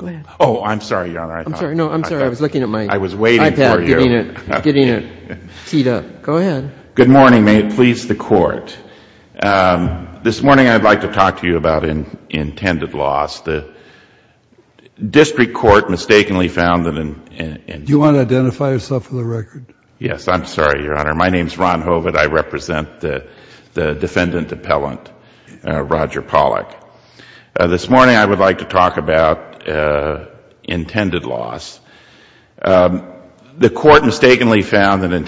Good morning, may it please the Court. This morning, I would like to talk to you about intended loss. The district court mistakenly found that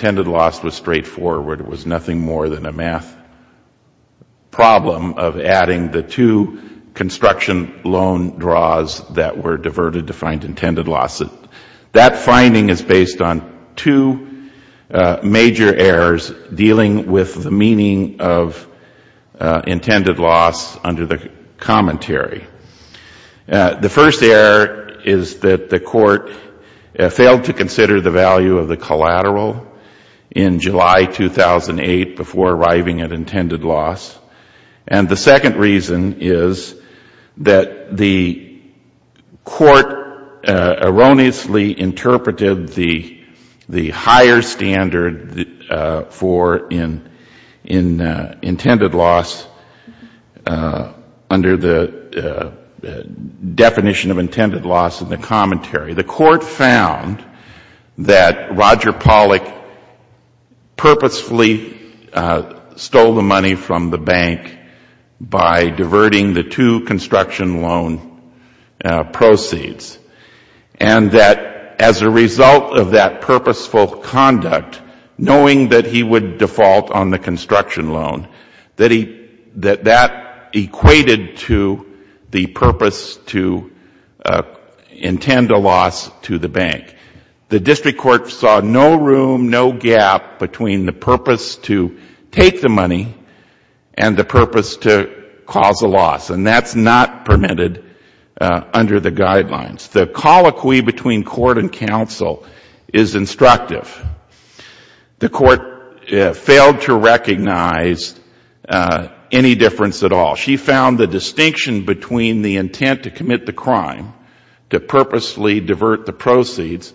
intended loss was straightforward, it was nothing more than a math problem of adding the two construction loan draws that were diverted to find intended loss. That finding is based on two major errors dealing with the meaning of intended loss under the commentary. The first error is that the Court failed to consider the value of the collateral in July 2008 before arriving at intended loss. And the second reason is that the Court erroneously interpreted the higher standard for intended loss under the definition of intended loss in the commentary. The Court found that Roger Pollock purposefully stole the money from the bank by diverting the two construction loan proceeds. And that as a result of that purposeful conduct, knowing that he would default on the construction loan, that that equated to the purpose to intend a loss to the bank. The district court saw no room, no gap between the purpose to take the money and the purpose to cause a loss. And that's not permitted under the guidelines. The colloquy between Court and counsel is instructive. The Court failed to recognize any difference at all. She found the distinction between the intent to commit the crime, to purposely divert the proceeds,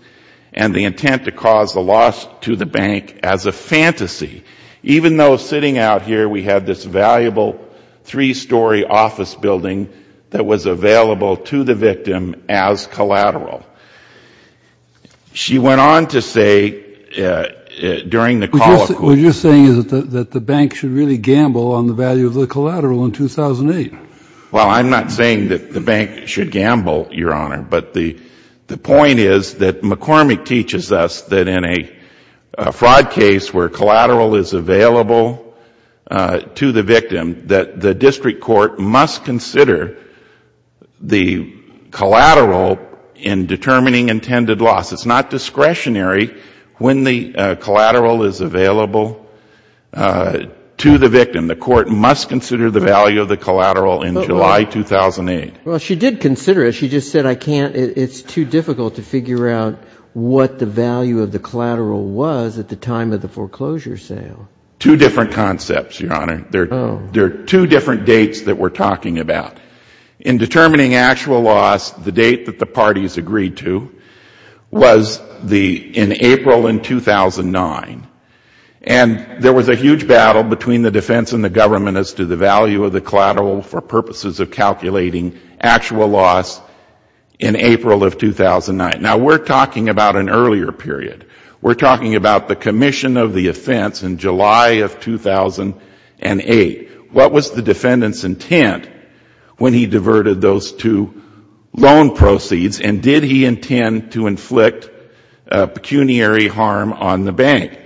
and the intent to cause a loss to the bank as a fantasy. Even though sitting out here we had this valuable three-story office building that was available to the victim as collateral. She went on to say during the colloquy Were you saying that the bank should really gamble on the value of the collateral in 2008? Well, I'm not saying that the bank should gamble, Your Honor. But the point is that McCormick teaches us that in a fraud case where collateral is available to the victim, that the district court must consider the collateral in determining intended loss. It's not discretionary when the collateral is available to the victim. The court must consider the value of the collateral in July 2008. She did consider it. She just said it's too difficult to figure out what the value of the collateral was at the time of the foreclosure sale. Two different concepts, Your Honor. There are two different dates that we're talking about. In determining actual loss, the date that the parties agreed to was in April of 2009. And there was a huge battle between the defense and the government as to the value of the collateral for purposes of calculating actual loss in April of 2009. Now, we're talking about an earlier period. We're talking about the commission of the offense in July of 2008. What was the defendant's intent when he diverted those two loan proceeds, and did he intend to inflict pecuniary harm on the bank?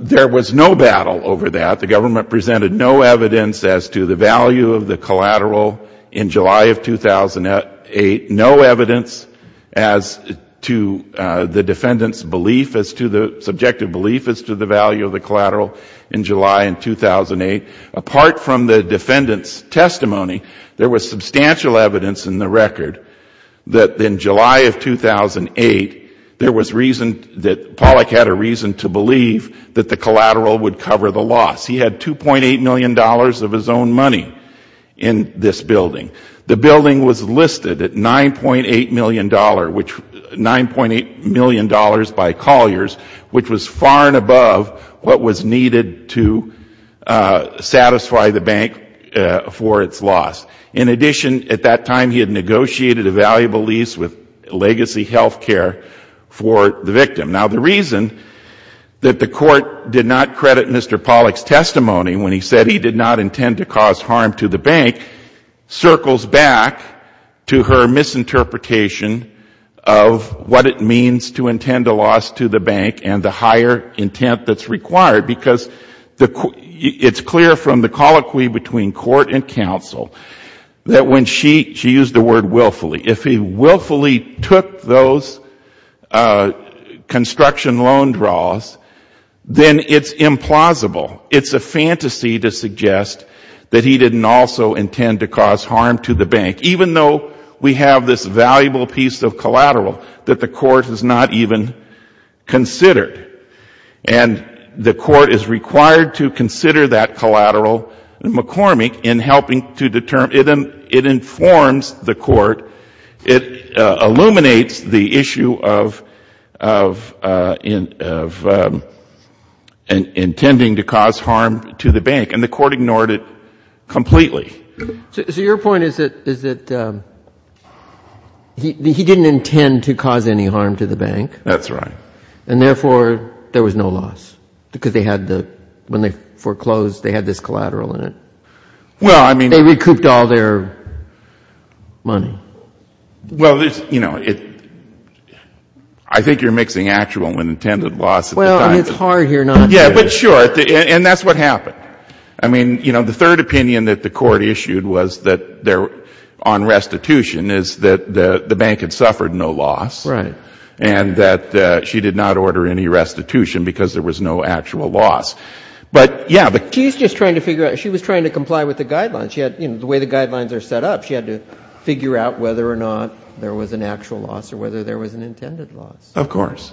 There was no battle over that. The government presented no evidence as to the value of the collateral in July of 2008, no evidence as to the defendant's belief as to the subjective belief as to the value of the collateral in July of 2008. Apart from the defendant's testimony, there was substantial evidence in the record that in July of 2008, there was reason that Pollack had a reason to believe that the collateral would cover the loss. He had $2.8 million of his own money in this building. The building was listed at $9.8 million by Colliers, which was far and above what was needed to satisfy the bank for its loss. In addition, at that time, he had negotiated a valuable lease with Legacy Healthcare for the victim. Now, the reason that the court did not credit Mr. Pollack's testimony when he said he did not intend to cause harm to the bank circles back to her misinterpretation of what it means to intend a loss to the bank and the higher intent that is required. It's clear from the colloquy between court and counsel that when she used the word willfully, if he willfully took those construction loan draws, then it's implausible. It's a fantasy to suggest that he didn't also intend to cause harm to the bank, even though we have this valuable piece of collateral that the court has not even considered. And the court is required to consider that collateral, McCormick, in helping to determine it informs the court, it illuminates the issue of intending to cause harm to the bank. And the court ignored it completely. So your point is that he didn't intend to cause any harm to the bank. That's right. And therefore, there was no loss, because they had the, when they foreclosed, they had this collateral in it. Well, I mean. They recouped all their money. Well, there's, you know, I think you're mixing actual and intended loss at the time. Well, I mean, it's hard here not to. Yeah, but sure. And that's what happened. I mean, you know, the third opinion that the court issued was that there, on restitution, is that the bank had suffered no loss. Right. And that she did not order any restitution, because there was no actual loss. But yeah, but. She's just trying to figure out, she was trying to comply with the guidelines. She had, you know, the way the guidelines are set up, she had to figure out whether or not there was an actual loss or whether there was an intended loss. Of course.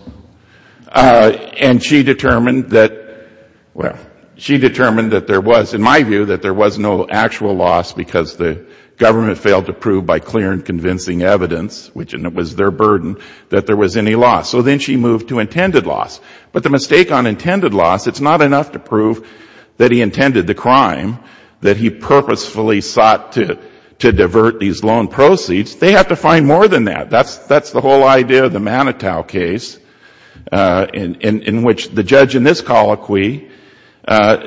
And she determined that, well, she determined that there was, in my view, that there was no actual loss, because the government failed to prove by clear and convincing evidence, which was their burden, that there was any loss. So then she moved to intended loss. But the mistake on intended loss, it's not enough to prove that he intended the crime, that he purposefully sought to divert these loan proceeds. They have to find more than that. That's the whole idea of the Manitow case, in which the judge in this colloquy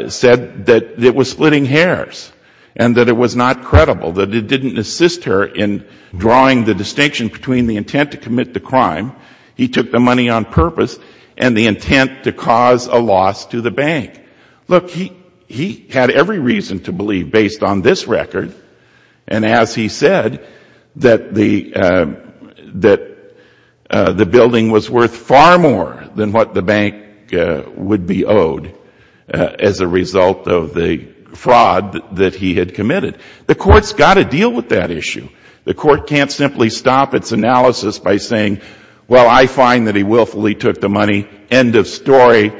said that it was splitting hairs and that it was not credible, that it didn't assist her in drawing the distinction between the intent to commit the crime, he took the money on purpose, and the intent to cause a loss to the bank. Look, he had every reason to believe, based on this record, and as he said, that the building was worth far more than what the bank would be owed as a result of the fraud that he had committed. The Court's got to deal with that issue. The Court can't simply stop its analysis by saying, well, I find that he willfully took the money, end of story.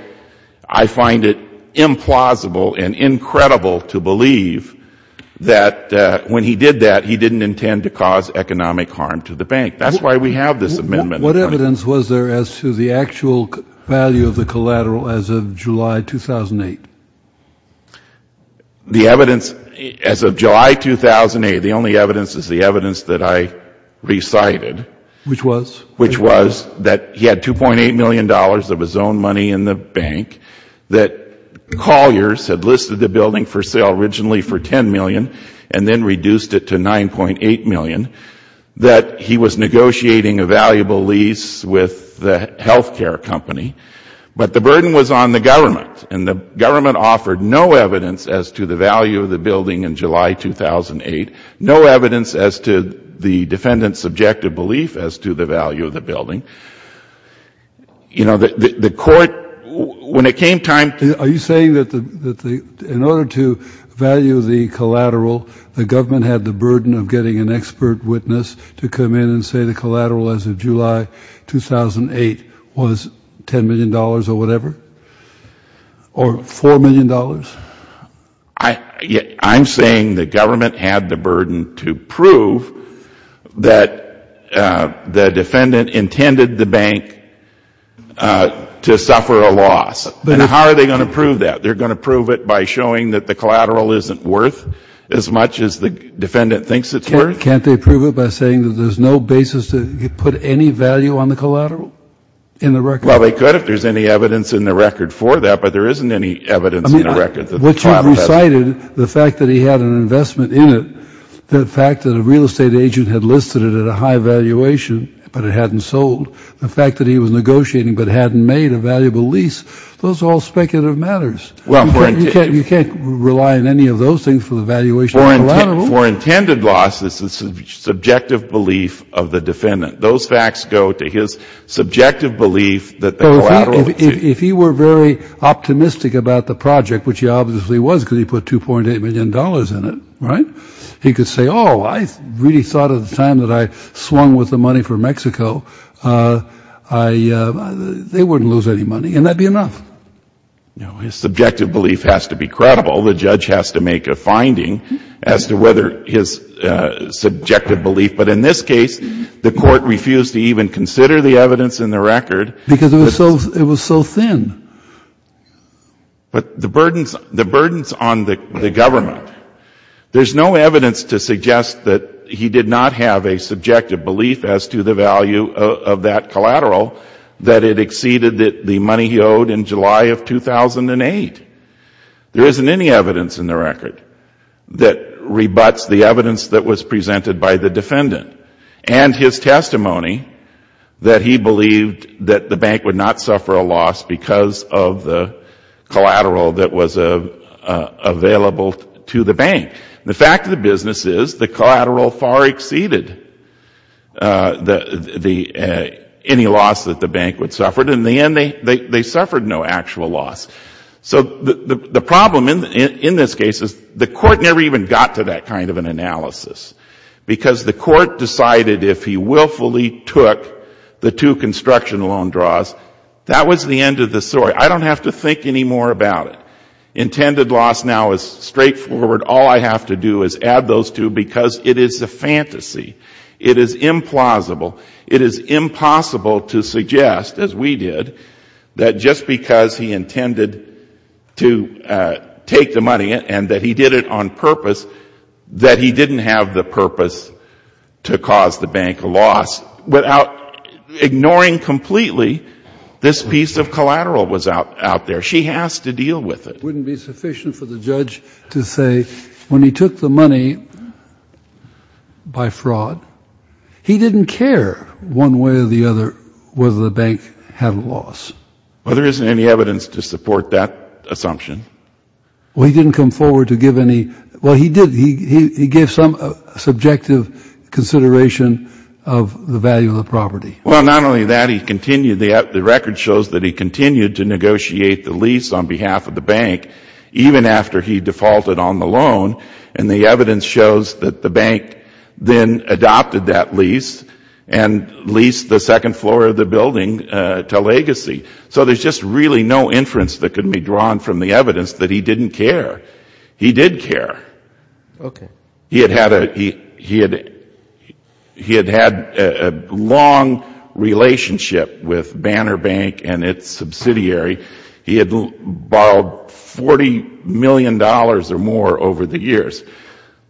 I find it implausible and incredible to believe that when he did that, he didn't intend to cause economic harm to the bank. That's why we have this amendment. What evidence was there as to the actual value of the collateral as of July 2008? The evidence as of July 2008, the only evidence is the evidence that I recited. Which was? Which was that he had $2.8 million of his own money in the bank, that Colliers had listed the building for sale originally for $10 million and then reduced it to $9.8 million, that he was negotiating a valuable lease with the health care company. But the burden was on the government, and the government offered no evidence as to the value of the building in July 2008, no evidence as to the defendant's subjective belief as to the value of the building. You know, the Court, when it came time to Are you saying that in order to value the collateral, the government had the burden of getting an expert witness to come in and say the collateral as of July 2008 was $10 million or whatever? Or $4 million? I'm saying the government had the burden to prove that the defendant intended the bank to suffer a loss. And how are they going to prove that? They're going to prove it by showing that the collateral isn't worth as much as the defendant thinks it's worth? Can't they prove it by saying that there's no basis to put any value on the collateral in the record? Well, they could if there's any evidence in the record for that, but there isn't any evidence What you've recited, the fact that he had an investment in it, the fact that a real estate agent had listed it at a high valuation, but it hadn't sold, the fact that he was negotiating but hadn't made a valuable lease, those are all speculative matters. You can't rely on any of those things for the valuation of the collateral. For intended losses, it's the subjective belief of the defendant. Those facts go to his subjective belief that the collateral is cheap. If he were very optimistic about the project, which he obviously was because he put $2.8 million in it, right, he could say, oh, I really thought at the time that I swung with the money for Mexico, they wouldn't lose any money, and that would be enough. His subjective belief has to be credible. The judge has to make a finding as to whether his subjective belief, but in this case, the court refused to even consider the evidence in the record. Because it was so thin. But the burdens on the government, there's no evidence to suggest that he did not have a subjective belief as to the value of that collateral that it exceeded the money he owed in July of 2008. There isn't any evidence in the record that rebuts the evidence that was presented by the defendant and his testimony that he believed that the bank would not suffer a loss because of the collateral that was available to the bank. The fact of the business is the collateral far exceeded any loss that the bank would suffer, and in the end, they suffered no actual loss. So the problem in this case is the court never even got to that kind of an analysis. Because the court decided if he willfully took the two construction loan draws, that was the end of the story. I don't have to think any more about it. Intended loss now is straightforward. All I have to do is add those two because it is a fantasy. It is implausible. It is impossible to suggest, as we did, that just because he intended to take the money and that he did it on purpose, that he didn't have the purpose to cause the bank a loss. Without ignoring completely, this piece of collateral was out there. She has to deal with it. It wouldn't be sufficient for the judge to say when he took the money by fraud, he didn't care one way or the other whether the bank had a loss. Well, there isn't any evidence to support that assumption. Well, he didn't come forward to give any. Well, he did. He gave some subjective consideration of the value of the property. Well, not only that, he continued. The record shows that he continued to negotiate the lease on behalf of the bank even after he defaulted on the loan, and the evidence shows that the bank then adopted that lease and leased the second floor of the building to Legacy. So there's just really no inference that can be drawn from the evidence that he didn't care. He did care. He had had a long relationship with Banner Bank and its subsidiary. He had borrowed $40 million or more over the years.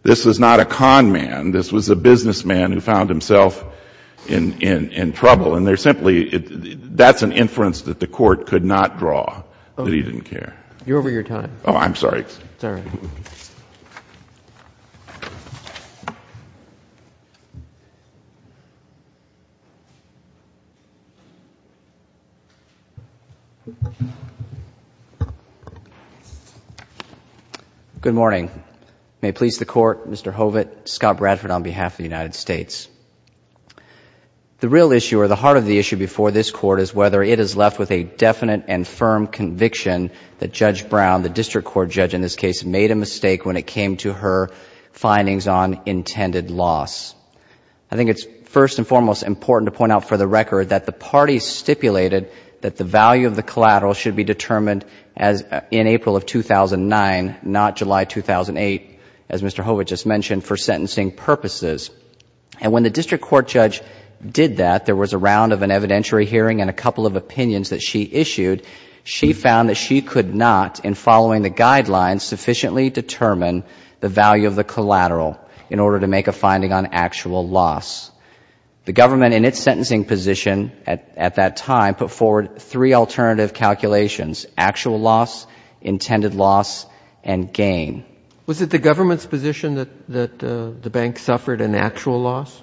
This was not a con man. This was a businessman who found himself in trouble, and they're simply, that's an inference that the Court could not draw, that he didn't care. You're over your time. Oh, I'm sorry. Thanks. It's all right. Good morning. May it please the Court, Mr. Hovet, Scott Bradford on behalf of the United States. The real issue or the heart of the issue before this Court is whether it is left with a definite and firm conviction that Judge Brown, the District Court judge in this case, made a mistake when it came to her findings on intended loss. I think it's first and foremost important to point out for the record that the parties stipulated that the value of the collateral should be determined in April of 2009, not July 2008, as Mr. Hovet just mentioned, for sentencing purposes. And when the District Court judge did that, there was a round of an evidentiary hearing and a couple of opinions that she issued. She found that she could not, in following the guidelines, sufficiently determine the value of the collateral in order to make a finding on actual loss. The government, in its sentencing position at that time, put forward three alternative calculations, actual loss, intended loss, and gain. Was it the government's position that the bank suffered an actual loss?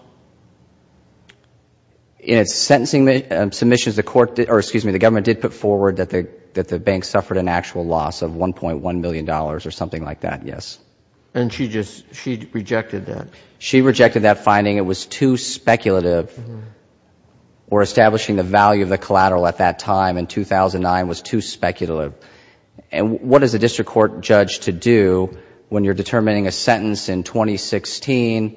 In its sentencing submissions, the government did put forward that the bank suffered an actual loss of $1.1 million or something like that, yes. And she rejected that? She rejected that finding. It was too speculative. Or establishing the value of the collateral at that time in 2009 was too speculative. And what is a District Court judge to do when you are determining a sentence in 2016,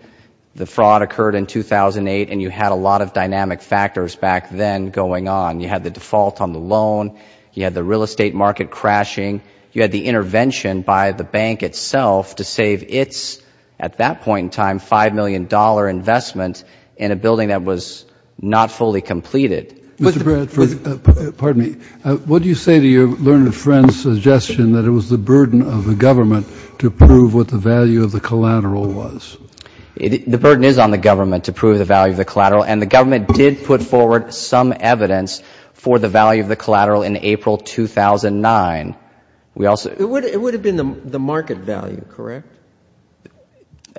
the court in 2008, and you had a lot of dynamic factors back then going on? You had the default on the loan, you had the real estate market crashing, you had the intervention by the bank itself to save its, at that point in time, $5 million investment in a building that was not fully completed? Mr. Bradford, pardon me, what do you say to your learned friend's suggestion that it was the burden of the government to prove what the value of the collateral was? The burden is on the government to prove the value of the collateral. And the government did put forward some evidence for the value of the collateral in April 2009. We also It would have been the market value, correct?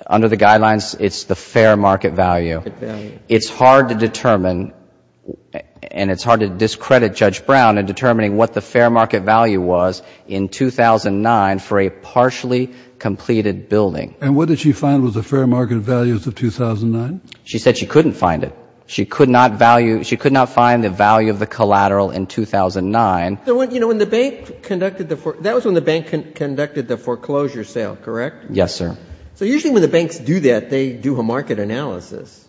Under the guidelines, it's the fair market value. It's hard to determine, and it's hard to discredit Judge Brown in determining what the fair market value was in 2009 for a partially completed building. And what did she find was the fair market values of 2009? She said she couldn't find it. She could not value, she could not find the value of the collateral in 2009. You know, when the bank conducted the, that was when the bank conducted the foreclosure sale, correct? Yes, sir. So usually when the banks do that, they do a market analysis.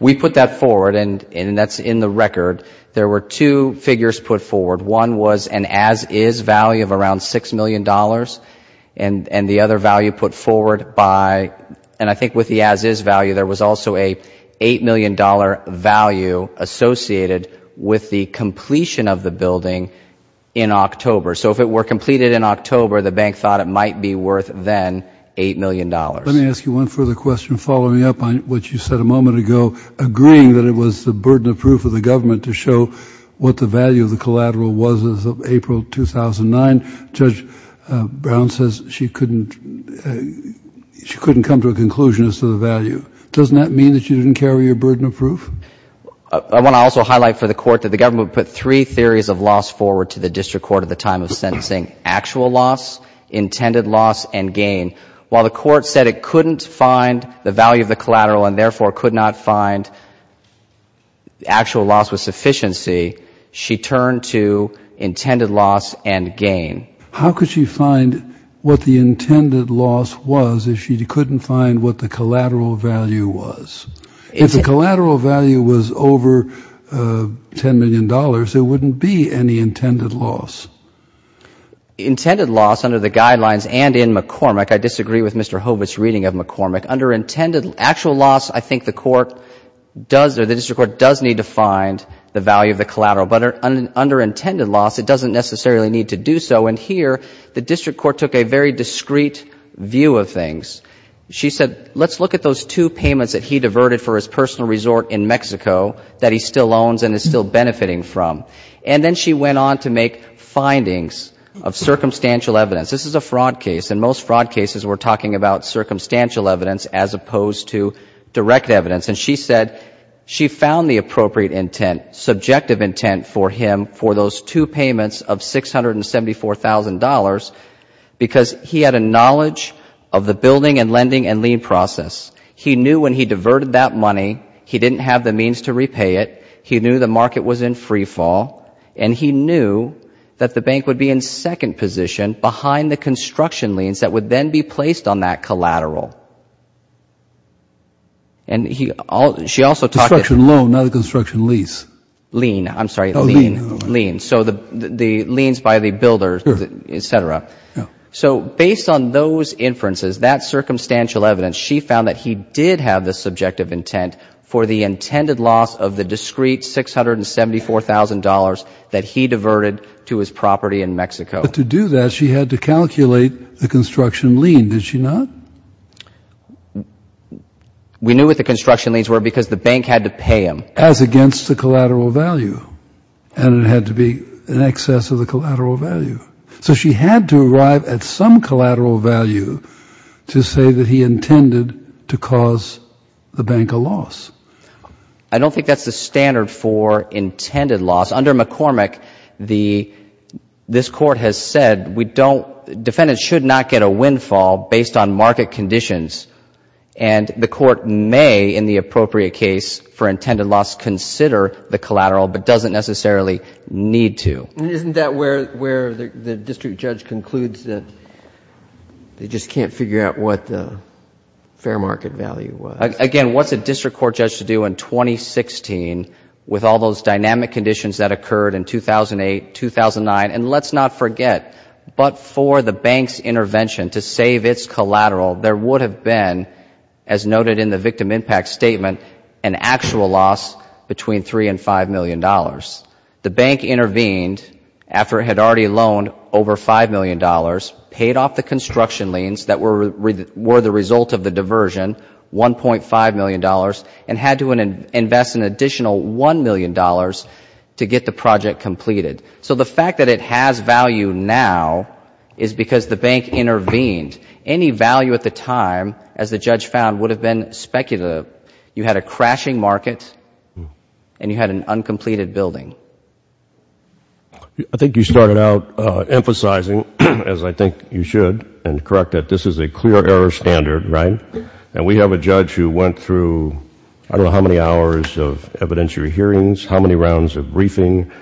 We put that forward, and that's in the record. There were two figures put forward. One was an as-is value of around $6 million, and the other value put forward by, and I think with the as-is value, there was also a $8 million value associated with the completion of the building in October. So if it were completed in October, the bank thought it might be worth then $8 million. Let me ask you one further question following up on what you said a moment ago, agreeing that it was the burden of proof of the government to show what the value of the collateral was as of April 2009, Judge Brown says she couldn't, she couldn't come to a conclusion as to the value. Doesn't that mean that you didn't carry your burden of proof? I want to also highlight for the Court that the government put three theories of loss forward to the district court at the time of sentencing, actual loss, intended loss, and gain. While the Court said it couldn't find the value of the collateral and therefore could not find actual loss with sufficiency, she turned to intended loss and gain. How could she find what the intended loss was if she couldn't find what the collateral value was? If the collateral value was over $10 million, there wouldn't be any intended loss. Intended loss under the guidelines and in McCormick, I disagree with Mr. Hobbit's reading of McCormick. Under intended actual loss, I think the court does or the district court does need to find the value of the collateral. But under intended loss, it doesn't necessarily need to do so. And here, the district court took a very discreet view of things. She said, let's look at those two payments that he diverted for his personal resort in Mexico that he still owns and is still benefiting from. And then she went on to make findings of circumstantial evidence. This is a fraud case. In most fraud cases, we're talking about circumstantial evidence as opposed to direct evidence. And she said she found the appropriate intent, subjective intent, for him for those two payments of $674,000 because he had a knowledge of the building and lending and lien process. He knew when he diverted that money, he didn't have the means to repay it. He knew the market was in freefall. And he knew that the bank would be in second position behind the construction liens that would then be placed on that collateral. And he also, she also talked to... Construction loan, not a construction lease. I'm sorry. Lien. Lien. So the liens by the builder, et cetera. So based on those inferences, that circumstantial evidence, she found that he did have the subjective intent for the intended loss of the discreet $674,000 that he diverted to his property in Mexico. But to do that, she had to calculate the construction lien, did she not? We knew what the construction liens were because the bank had to pay him. As against the collateral value, and it had to be in excess of the collateral value. So she had to arrive at some collateral value to say that he intended to cause the bank a loss. I don't think that's the standard for intended loss. Under McCormick, this Court has said we don't... Defendants should not get a windfall based on market conditions. And the Court may, in the appropriate case for intended loss, consider the collateral but doesn't necessarily need to. Isn't that where the district judge concludes that they just can't figure out what the fair market value was? Again, what's a district court judge to do in 2016 with all those dynamic conditions that occurred in 2008, 2009? And let's not forget, but for the bank's intervention to save its collateral, there would have been, as noted in the victim impact statement, an actual loss between $3 and $5 million. The bank intervened after it had already loaned over $5 million, paid off the construction liens that were the result of the diversion, $1.5 million, and had to invest an additional $1 million to get the project completed. So the fact that it has value now is because the bank intervened. Any value at the time, as the judge found, would have been speculative. You had a crashing market, and you had an uncompleted building. I think you started out emphasizing, as I think you should, and correct that this is a clear error standard, right? And we have a judge who went through I don't know how many hours of evidentiary hearings, how many rounds of briefing,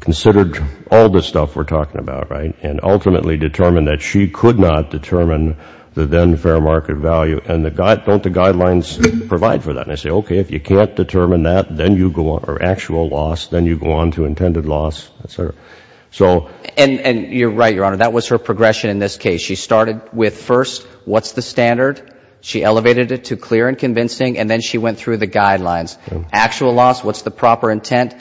considered all the stuff we're talking about, right? And ultimately determined that she could not determine the then fair market value. And don't the guidelines provide for that? And they say, okay, if you can't determine that, then you go on, or actual loss, then you go on to intended loss, et cetera. And you're right, Your Honor. That was her progression in this case. She started with first, what's the standard? She elevated it to clear and convincing, and then she went through the guidelines. Actual loss, what's the proper intent?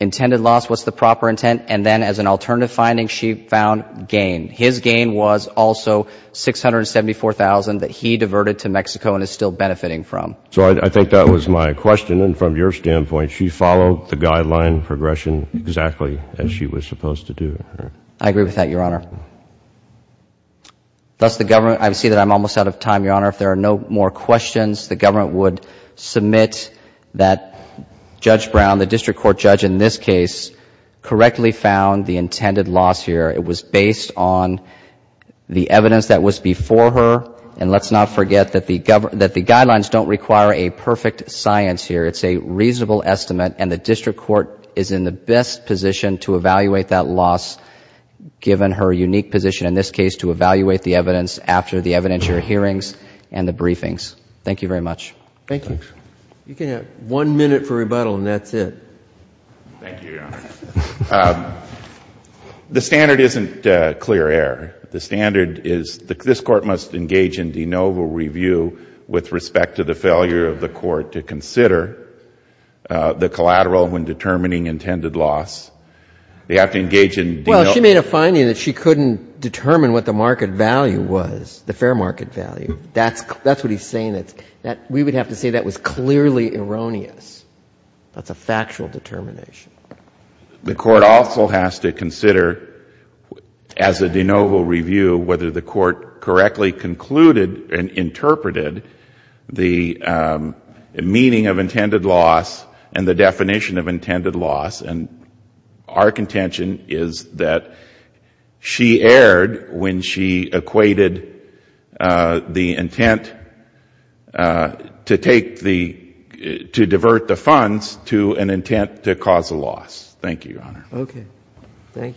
Intended loss, what's the proper intent? And then as an alternative finding, she found gain. His gain was also $674,000 that he diverted to Mexico and is still benefiting from. So I think that was my question. And from your standpoint, she followed the guideline progression exactly as she was supposed to do. I agree with that, Your Honor. Thus, the government, I see that I'm almost out of time, Your Honor. If there are no more questions, the government would submit that Judge Brown, the district court judge in this case, correctly found the intended loss here. It was based on the evidence that was before her. And let's not forget that the guidelines don't require a perfect science here. It's a reasonable estimate, and the district court is in the best position to evaluate that loss, given her unique position in this case to evaluate the evidence after the evidentiary hearings and the briefings. Thank you very much. Thank you. You can have one minute for rebuttal, and that's it. Thank you, Your Honor. The standard isn't clear air. The standard is that this Court must engage in de novo review with respect to the failure of the Court to consider the collateral when determining intended loss. They have to engage in de novo. Well, she made a finding that she couldn't determine what the market value was, the fair market value. That's what he's saying. We would have to say that was clearly erroneous. That's a factual determination. The Court also has to consider, as a de novo review, whether the Court correctly concluded and interpreted the meaning of intended loss and the definition of intended loss, and our to an intent to cause a loss. Thank you, Your Honor. Okay.